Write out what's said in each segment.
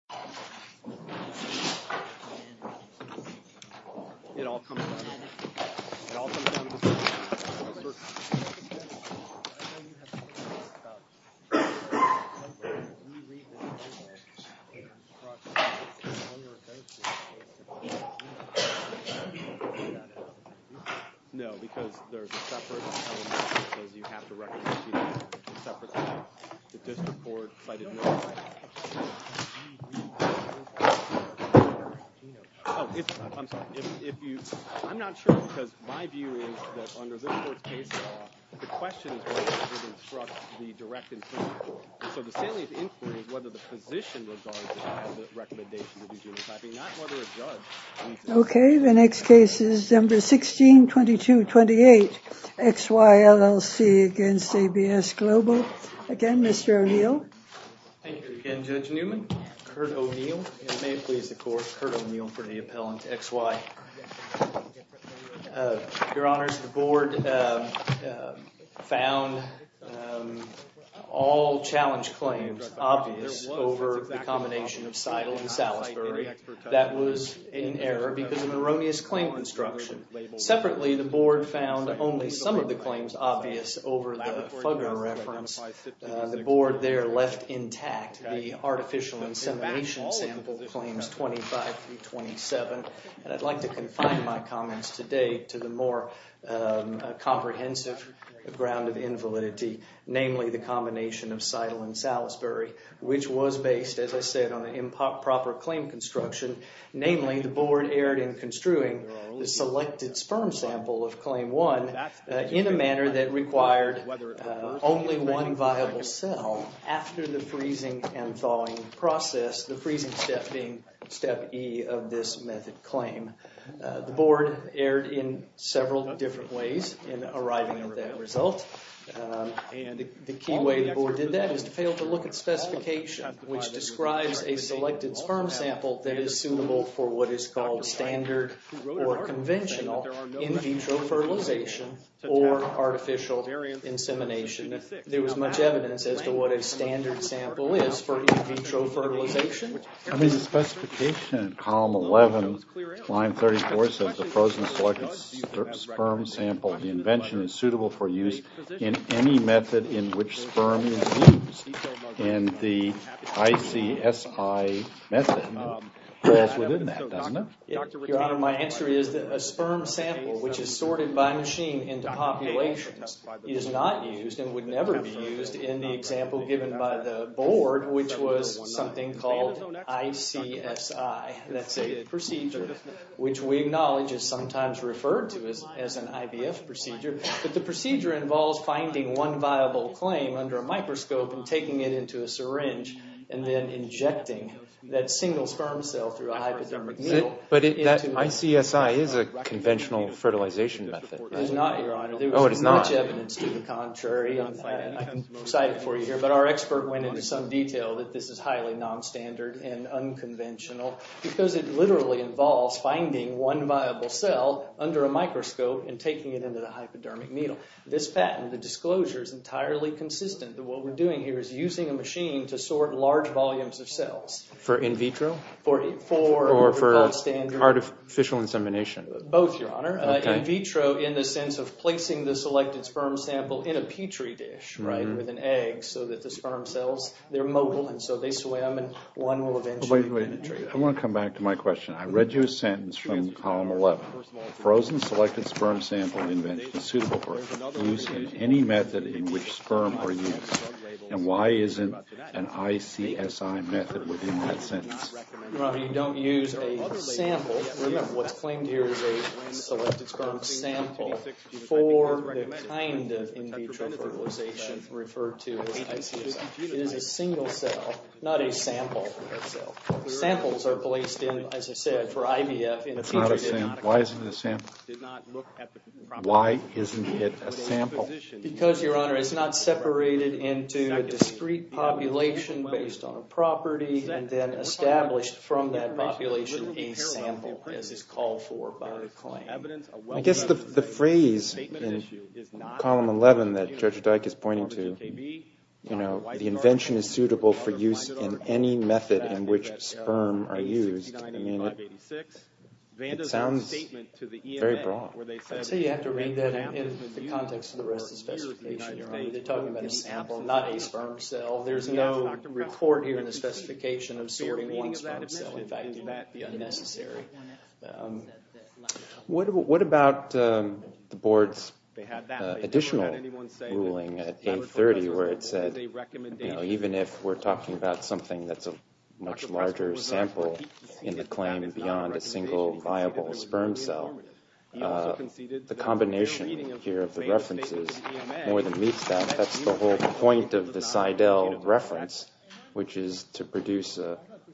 162228, X, Y, LLC v. ABS Global, Inc. Thank you again, Judge Newman. Kurt O'Neill, and may it please the Court, Kurt O'Neill for the appellant, X, Y. Your Honors, the Board found all challenge claims obvious over the combination of Seidel and Salisbury. That was in error because of erroneous claim construction. Separately, the Board found only some of the claims obvious over the Fugger reference. The Board there left intact the artificial insemination sample claims 25 through 27, and I'd like to confine my comments today to the more comprehensive ground of invalidity, namely the combination of Seidel and Salisbury, which was based, as I said, on the improper claim construction. Namely, the Board erred in construing the selected sperm sample of only one viable cell after the freezing and thawing process, the freezing step being step E of this method claim. The Board erred in several different ways in arriving at that result, and the key way the Board did that is to fail to look at specification which describes a selected sperm sample that is suitable for what is called standard or conventional in vitro fertilization or artificial insemination. There was much evidence as to what a standard sample is for in vitro fertilization. I mean the specification in column 11, line 34, says the frozen selected sperm sample invention is suitable for use in any method in which sperm is used, and the ICSI method falls within that, doesn't it? Your Honor, my answer is that a sperm sample which is sorted by machine into populations is not used and would never be used in the example given by the Board, which was something called ICSI. That's a procedure which we acknowledge is sometimes referred to as an IVF procedure, but the procedure involves finding one viable claim under a microscope and taking it into a single sperm cell through a hypodermic needle. But that ICSI is a conventional fertilization method. It is not, Your Honor. There was much evidence to the contrary. I'm excited for you here, but our expert went into some detail that this is highly non-standard and unconventional because it literally involves finding one viable cell under a microscope and taking it into the hypodermic needle. This patent, the disclosure, is entirely consistent that what we're doing here is using a machine to sort large volumes of cells for in vitro? Or for artificial insemination? Both, Your Honor. In vitro in the sense of placing the selected sperm sample in a petri dish, right, with an egg so that the sperm cells, they're mobile and so they swim and one will eventually penetrate. I want to come back to my question. I read you a sentence from Column 11. A frozen selected sperm sample invention is suitable for any method in which sperm are used, and why isn't an ICSI method within that sentence? Your Honor, you don't use a sample. Remember, what's claimed here is a selected sperm sample for the kind of in vitro fertilization referred to as ICSI. It is a single cell, not a sample. Samples are placed in, as I said, for IVF in a petri dish. Why isn't it a sample? Why isn't it a sample? Because, Your Honor, it's not separated into a discrete population based on a property and then established from that population a sample as is called for by the claim. I guess the phrase in Column 11 that Judge Dyke is pointing to, you know, the invention is suitable for use in any method in which sperm are used, I mean, it sounds very broad. I'd say you have to read that in the context of the rest of the specification, Your Honor. They're talking about a sample, not a sperm cell. There's no report here in the specification of sorting one sperm cell. In fact, that would be unnecessary. What about the Board's additional ruling at 830 where it said, you know, even if we're talking about something that's a much larger sample in the claim beyond a single viable sperm cell, the combination here of the references more than meets that. That's the whole point of the Seidel reference, which is to produce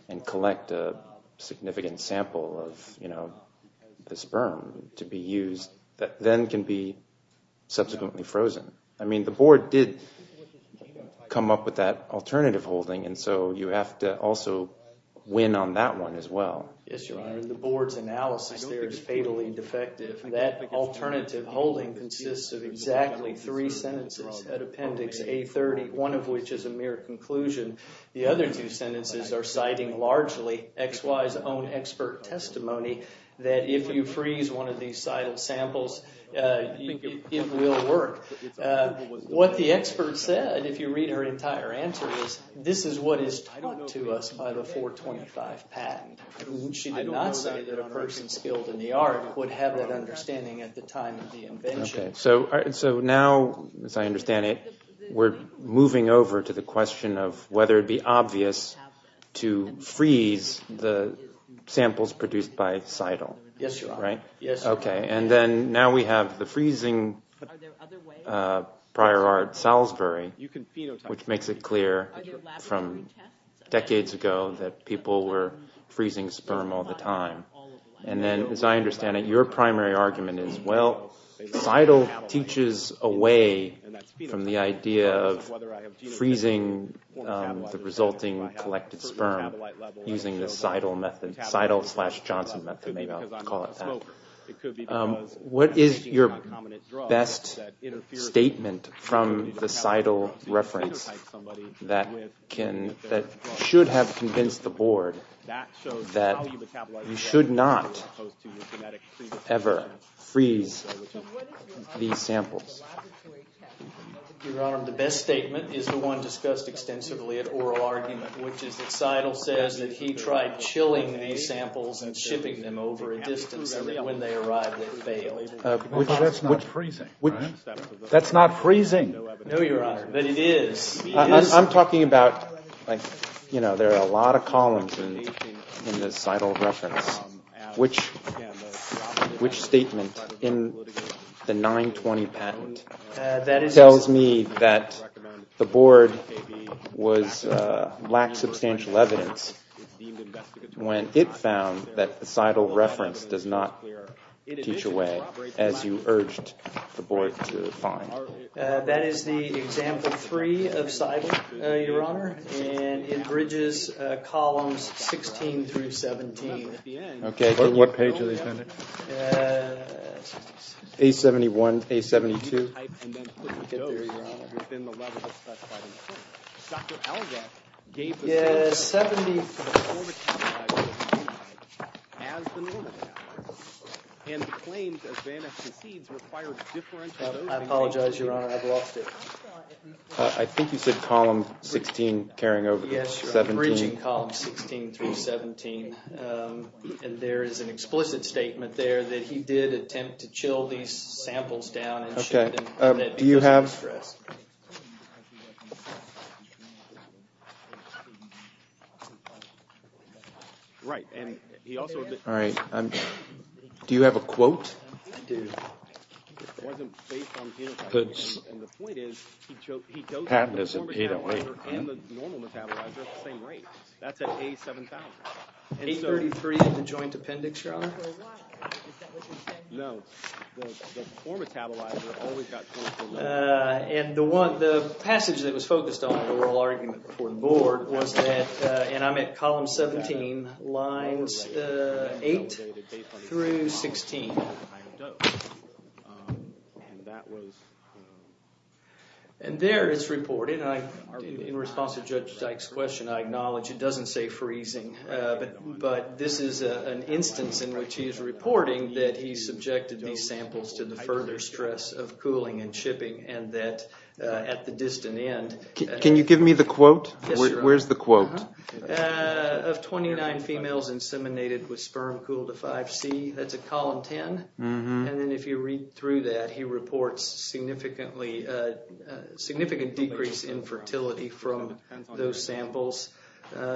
and collect a significant sample of, you know, the sperm to be used that then can be subsequently frozen. I mean, the Board did come up with that alternative holding, and so you have to also win on that one as well. Yes, Your Honor. The Board's analysis there is fatally defective. That alternative holding consists of exactly three sentences at Appendix A30, one of which is a mere conclusion. The other two sentences are citing largely XY's own expert testimony that if you freeze one of these Seidel samples, it will work. What the expert said, if you read her entire answer, is this is what is taught to us by the 425 patent. She did not say that a person skilled in the art would have that understanding at the time of the invention. So now, as I understand it, we're moving over to the question of whether it would be obvious to freeze the samples produced by Seidel. Yes, Your Honor. Okay, and then now we have the freezing prior art Salisbury, which makes it clear from decades ago that people were freezing sperm all the time. And then, as I understand it, your primary argument is, well, Seidel teaches away from the idea of freezing the resulting collected sperm using the Seidel method, Seidel slash Johnson method, maybe I'll call it that. What is your best statement from the Seidel reference that should have convinced the board that you should not ever freeze these samples? Your Honor, the best statement is the one discussed extensively at oral argument, which is that Seidel says that he tried chilling these samples and shipping them over a distance and that when they arrived, they failed. That's not freezing. No, Your Honor, but it is. I'm talking about, you know, there are a lot of columns in the Seidel reference. Which statement in the 920 patent? That tells me that the board lacked substantial evidence when it found that the Seidel reference does not teach away as you urged the board to find. That is the example three of Seidel, Your Honor, and it bridges columns 16 through 17. Okay, what page are they sending? A71, A72. I apologize, Your Honor, I've lost it. I think you said column 16 carrying over. Yes, Your Honor, bridging column 16 through 17. And there is an explicit statement there that he did attempt to chill these samples down and ship them. Okay, do you have... Do you have a quote? Yes, I do. The patent is at 808. 833 in the joint appendix, Your Honor? No, the poor metabolizer always got 24. And the passage that was focused on in the oral argument before the board was that, and I'm at column 17, lines 8 through 16. And there it's reported, and in response to Judge Dyke's question, I acknowledge it doesn't say freezing. But this is an instance in which he is reporting that he subjected these samples to the further stress of cooling and shipping and that at the distant end... Can you give me the quote? Yes, Your Honor. Where's the quote? Of 29 females inseminated with sperm cooled to 5C. That's at column 10. And then if you read through that, he reports significant decrease in fertility from those samples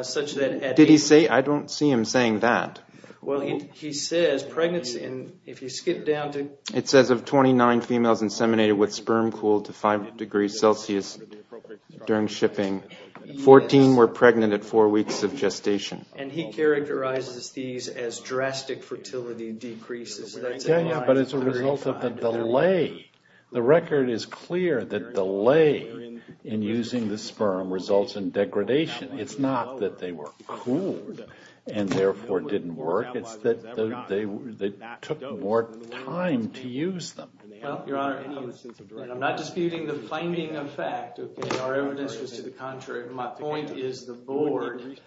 such that... Did he say... I don't see him saying that. Well, he says pregnancy... It says of 29 females inseminated with sperm cooled to 5 degrees Celsius during shipping, 14 were pregnant at four weeks of gestation. And he characterizes these as drastic fertility decreases. Yeah, yeah, but it's a result of the delay. The record is clear that delay in using the sperm results in degradation. It's not that they were cooled and therefore didn't work. It's that they took more time to use them. Well, Your Honor, I'm not disputing the finding of fact. Our evidence is to the contrary. My point is the board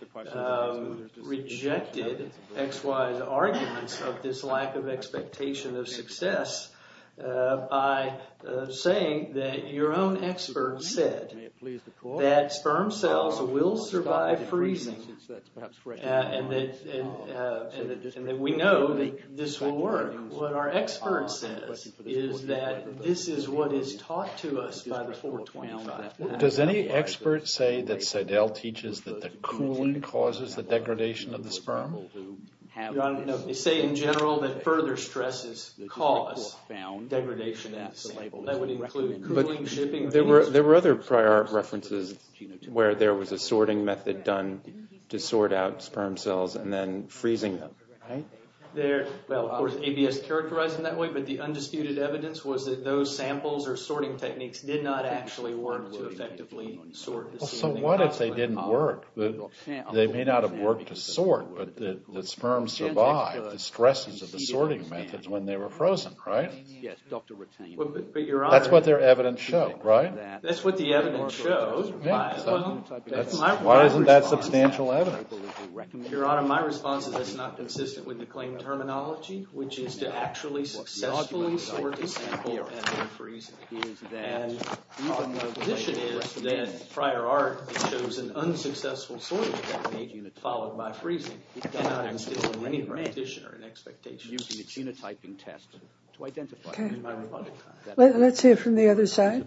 rejected XY's arguments of this lack of expectation of success by saying that your own expert said that sperm cells will survive freezing. And that we know that this will work. What our expert says is that this is what is taught to us by the 425 Act. Does any expert say that Seidel teaches that the cooling causes the degradation of the sperm? Your Honor, no. They say in general that further stresses cause degradation. That would include cooling, shipping... But there were other prior references where there was a sorting method done to sort out sperm cells and then freezing them, right? Well, of course, ABS characterized it that way, but the undisputed evidence was that those samples or sorting techniques did not actually work to effectively sort the sperm. So what if they didn't work? They may not have worked to sort, but the sperm survived the stresses of the sorting methods when they were frozen, right? Yes, Dr. Ratain. That's what their evidence showed, right? That's what the evidence showed. Why isn't that substantial evidence? Your Honor, my response to this is not consistent with the claim terminology, which is to actually successfully sort a sample and then freeze it. And my position is that prior art shows an unsuccessful sorting technique followed by freezing. It does not instill in any practitioner an expectation of using a genotyping test to identify... Okay. Let's hear from the other side.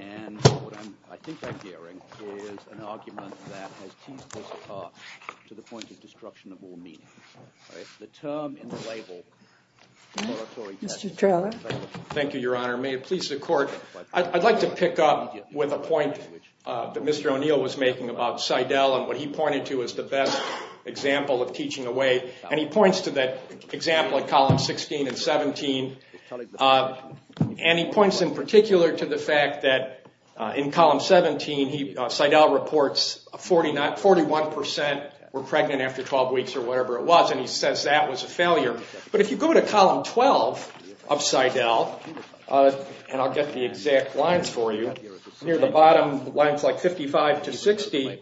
...and what I think I'm hearing is an argument that has teased us to the point of destruction of all meaning. The term in the label... Mr. Trello. Thank you, Your Honor. May it please the Court, I'd like to pick up with a point that Mr. O'Neill was making about Seidel and what he pointed to as the best example of teaching away. And he points to that example in column 16 and 17, and he points in particular to the fact that in column 17, Seidel reports 41% were pregnant after 12 weeks or whatever it was, and he says that was a failure. But if you go to column 12 of Seidel, and I'll get the exact lines for you, near the bottom, lines like 55 to 60,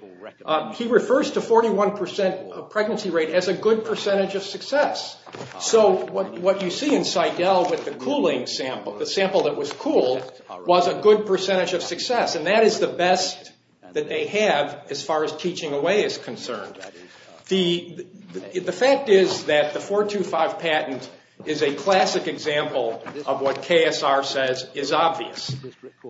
he refers to 41% pregnancy rate as a good percentage of success. So what you see in Seidel with the cooling sample, the sample that was cooled, was a good percentage of success, and that is the best that they have as far as teaching away is concerned. The fact is that the 425 patent is a classic example of what KSR says is obvious.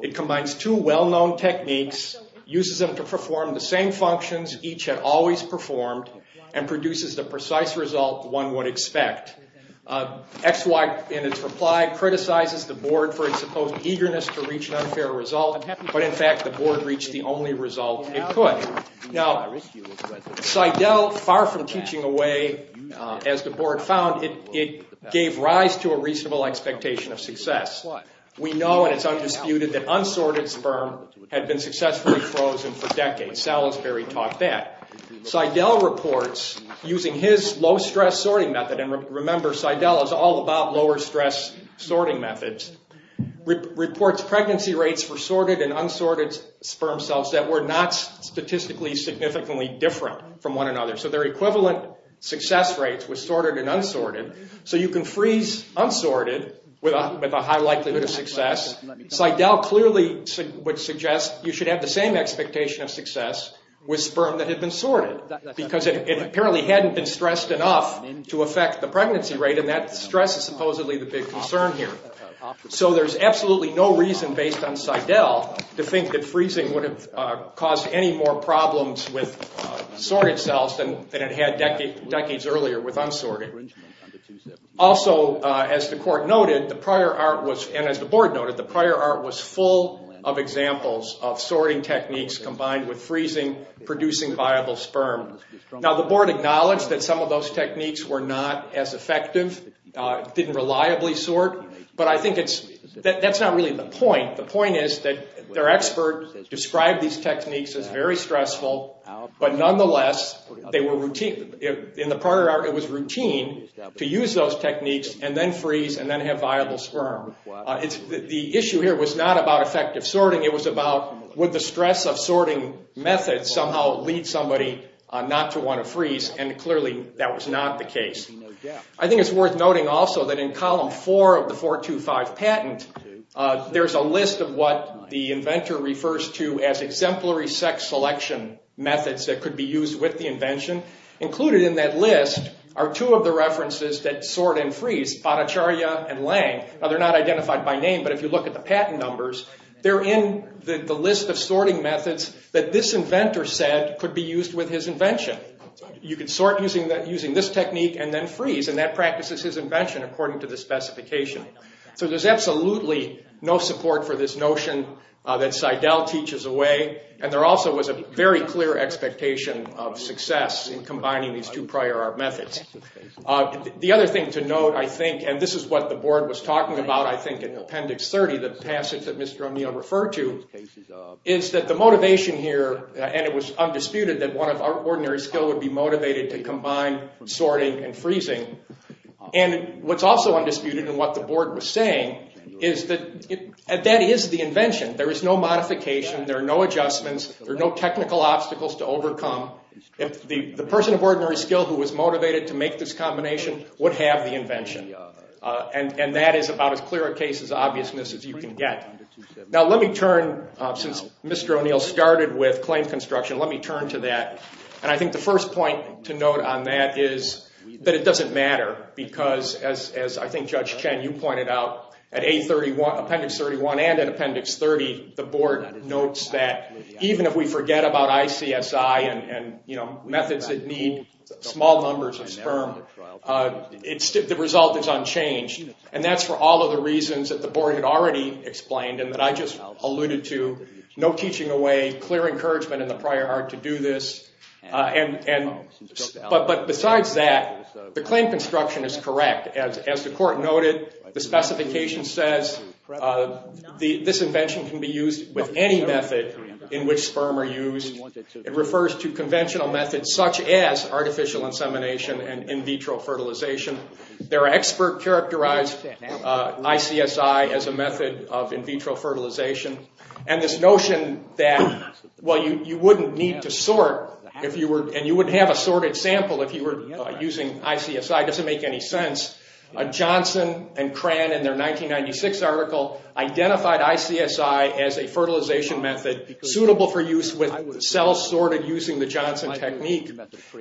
It combines two well-known techniques, uses them to perform the same functions each had always performed, and produces the precise result one would expect. XY, in its reply, criticizes the Board for its supposed eagerness to reach an unfair result, but in fact the Board reached the only result it could. Now, Seidel, far from teaching away, as the Board found, it gave rise to a reasonable expectation of success. We know, and it's undisputed, that unsorted sperm had been successfully frozen for decades. Salisbury taught that. Seidel reports, using his low-stress sorting method, and remember Seidel is all about lower-stress sorting methods, reports pregnancy rates for sorted and unsorted sperm cells that were not statistically significantly different from one another. So their equivalent success rates were sorted and unsorted. So you can freeze unsorted with a high likelihood of success. Seidel clearly would suggest you should have the same expectation of success with sperm that had been sorted, because it apparently hadn't been stressed enough to affect the pregnancy rate, and that stress is supposedly the big concern here. So there's absolutely no reason, based on Seidel, to think that freezing would have caused any more problems with sorted cells than it had decades earlier with unsorted. Also, as the Court noted, and as the Board noted, the prior art was full of examples of sorting techniques combined with freezing producing viable sperm. Now the Board acknowledged that some of those techniques were not as effective, didn't reliably sort, but I think that's not really the point. The point is that their expert described these techniques as very stressful, but nonetheless, in the prior art, it was routine to use those techniques and then freeze and then have viable sperm. The issue here was not about effective sorting, it was about would the stress of sorting methods somehow lead somebody not to want to freeze, and clearly that was not the case. I think it's worth noting also that in Column 4 of the 425 patent, there's a list of what the inventor refers to as exemplary sex selection methods that could be used with the invention. Included in that list are two of the references that sort and freeze, Botticaria and Lange. Now they're not identified by name, but if you look at the patent numbers, they're in the list of sorting methods that this inventor said could be used with his invention. You could sort using this technique and then freeze, and that practices his invention according to the specification. So there's absolutely no support for this notion that Seidel teaches away, and there also was a very clear expectation of success in combining these two prior art methods. The other thing to note, I think, and this is what the board was talking about I think in Appendix 30, the passage that Mr. O'Neill referred to, is that the motivation here, and it was undisputed that one of our ordinary skill would be motivated to combine sorting and freezing. And what's also undisputed in what the board was saying is that that is the invention. There is no modification, there are no adjustments, there are no technical obstacles to overcome. The person of ordinary skill who was motivated to make this combination would have the invention, and that is about as clear a case as obviousness as you can get. Now let me turn, since Mr. O'Neill started with claim construction, let me turn to that. And I think the first point to note on that is that it doesn't matter, because as I think Judge Chen, you pointed out, at Appendix 31 and at Appendix 30, the board notes that even if we forget about ICSI and methods that need small numbers of sperm, the result is unchanged. And that's for all of the reasons that the board had already explained and that I just alluded to. No teaching away, clear encouragement in the prior art to do this. But besides that, the claim construction is correct. As the court noted, the specification says this invention can be used with any method in which sperm are used. It refers to conventional methods such as artificial insemination and in vitro fertilization. Their expert characterized ICSI as a method of in vitro fertilization. And this notion that, well, you wouldn't need to sort and you wouldn't have a sorted sample if you were using ICSI doesn't make any sense. Johnson and Cran in their 1996 article identified ICSI as a fertilization method suitable for use with cells sorted using the Johnson technique.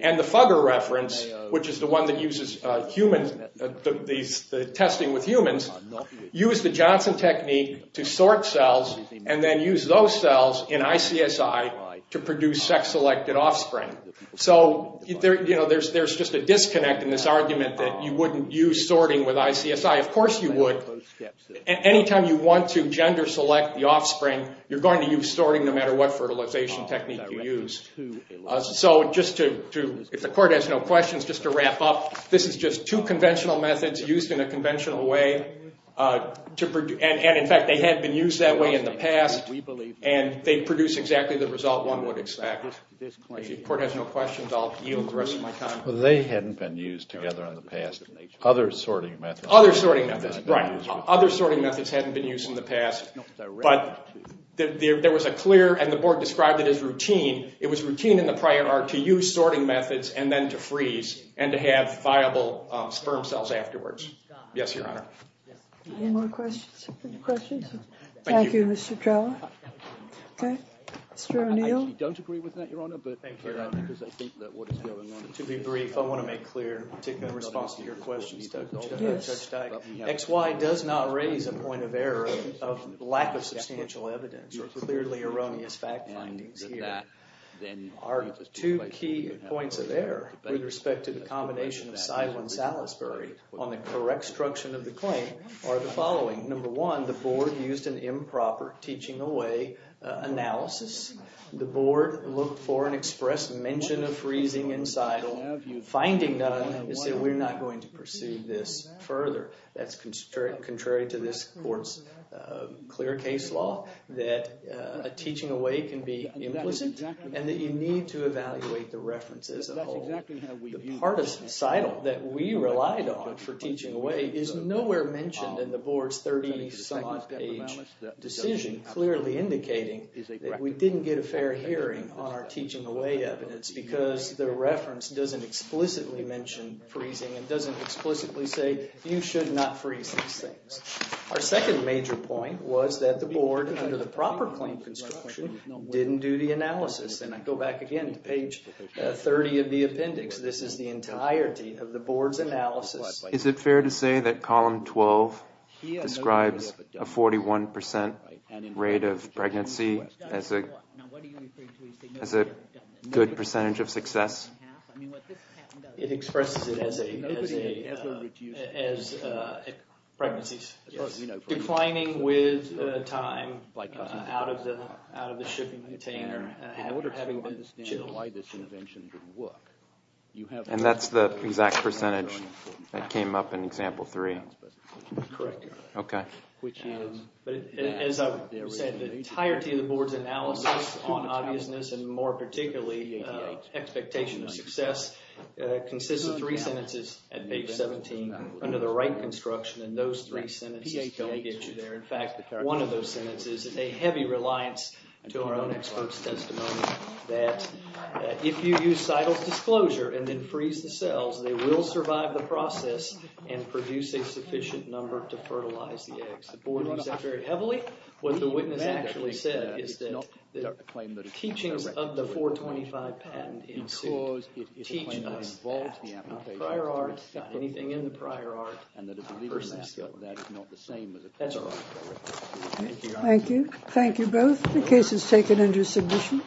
And the Fugger reference, which is the one that uses the testing with humans, used the Johnson technique to sort cells and then use those cells in ICSI to produce sex-selected offspring. So there's just a disconnect in this argument that you wouldn't use sorting with ICSI. Of course you would. Anytime you want to gender select the offspring, you're going to use sorting no matter what fertilization technique you use. So just to, if the court has no questions, just to wrap up, this is just two conventional methods used in a conventional way. And in fact, they had been used that way in the past. And they produce exactly the result one would expect. If the court has no questions, I'll yield the rest of my time. They hadn't been used together in the past. Other sorting methods. Other sorting methods, right. Other sorting methods hadn't been used in the past. But there was a clear, and the board described it as routine. It was routine in the prior art to use sorting methods and then to freeze and to have viable sperm cells afterwards. Yes, Your Honor. Any more questions? Thank you, Mr. Trello. Okay. Mr. O'Neill. I don't agree with that, Your Honor, but thank you because I think that what is going on. To be brief, I want to make clear, particularly in response to your question, X, Y does not raise a point of error of lack of substantial evidence or clearly erroneous fact findings here. Our two key points of error with respect to the combination of SIDEL and Salisbury on the correct structure of the claim are the following. Number one, the board used an improper teaching away analysis. The board looked for an express mention of freezing in SIDEL. The finding, then, is that we're not going to pursue this further. That's contrary to this court's clear case law that a teaching away can be implicit and that you need to evaluate the reference as a whole. The part of SIDEL that we relied on for teaching away is nowhere mentioned in the board's 30-some-odd-page decision, clearly indicating that we didn't get a fair hearing on our teaching away evidence because the reference doesn't explicitly mention freezing and doesn't explicitly say you should not freeze these things. Our second major point was that the board, under the proper claim construction, didn't do the analysis. And I go back again to page 30 of the appendix. This is the entirety of the board's analysis. Is it fair to say that column 12 describes a 41% rate of pregnancy as a good percentage of success? It expresses it as pregnancies declining with time out of the shipping container. And that's the exact percentage that came up in example 3? Correct. Okay. As I've said, the entirety of the board's analysis on obviousness, and more particularly expectation of success, consists of three sentences at page 17 under the right construction, and those three sentences don't get you there. In fact, one of those sentences is a heavy reliance to our own expert's testimony that if you use Seidel's disclosure and then freeze the cells, they will survive the process and produce a sufficient number to fertilize the eggs. The board used that very heavily. What the witness actually said is that teachings of the 425 patent ensued. Prior art, not anything in the prior art, not a person of skill. That's all. Thank you. Thank you both. The case is taken under submission.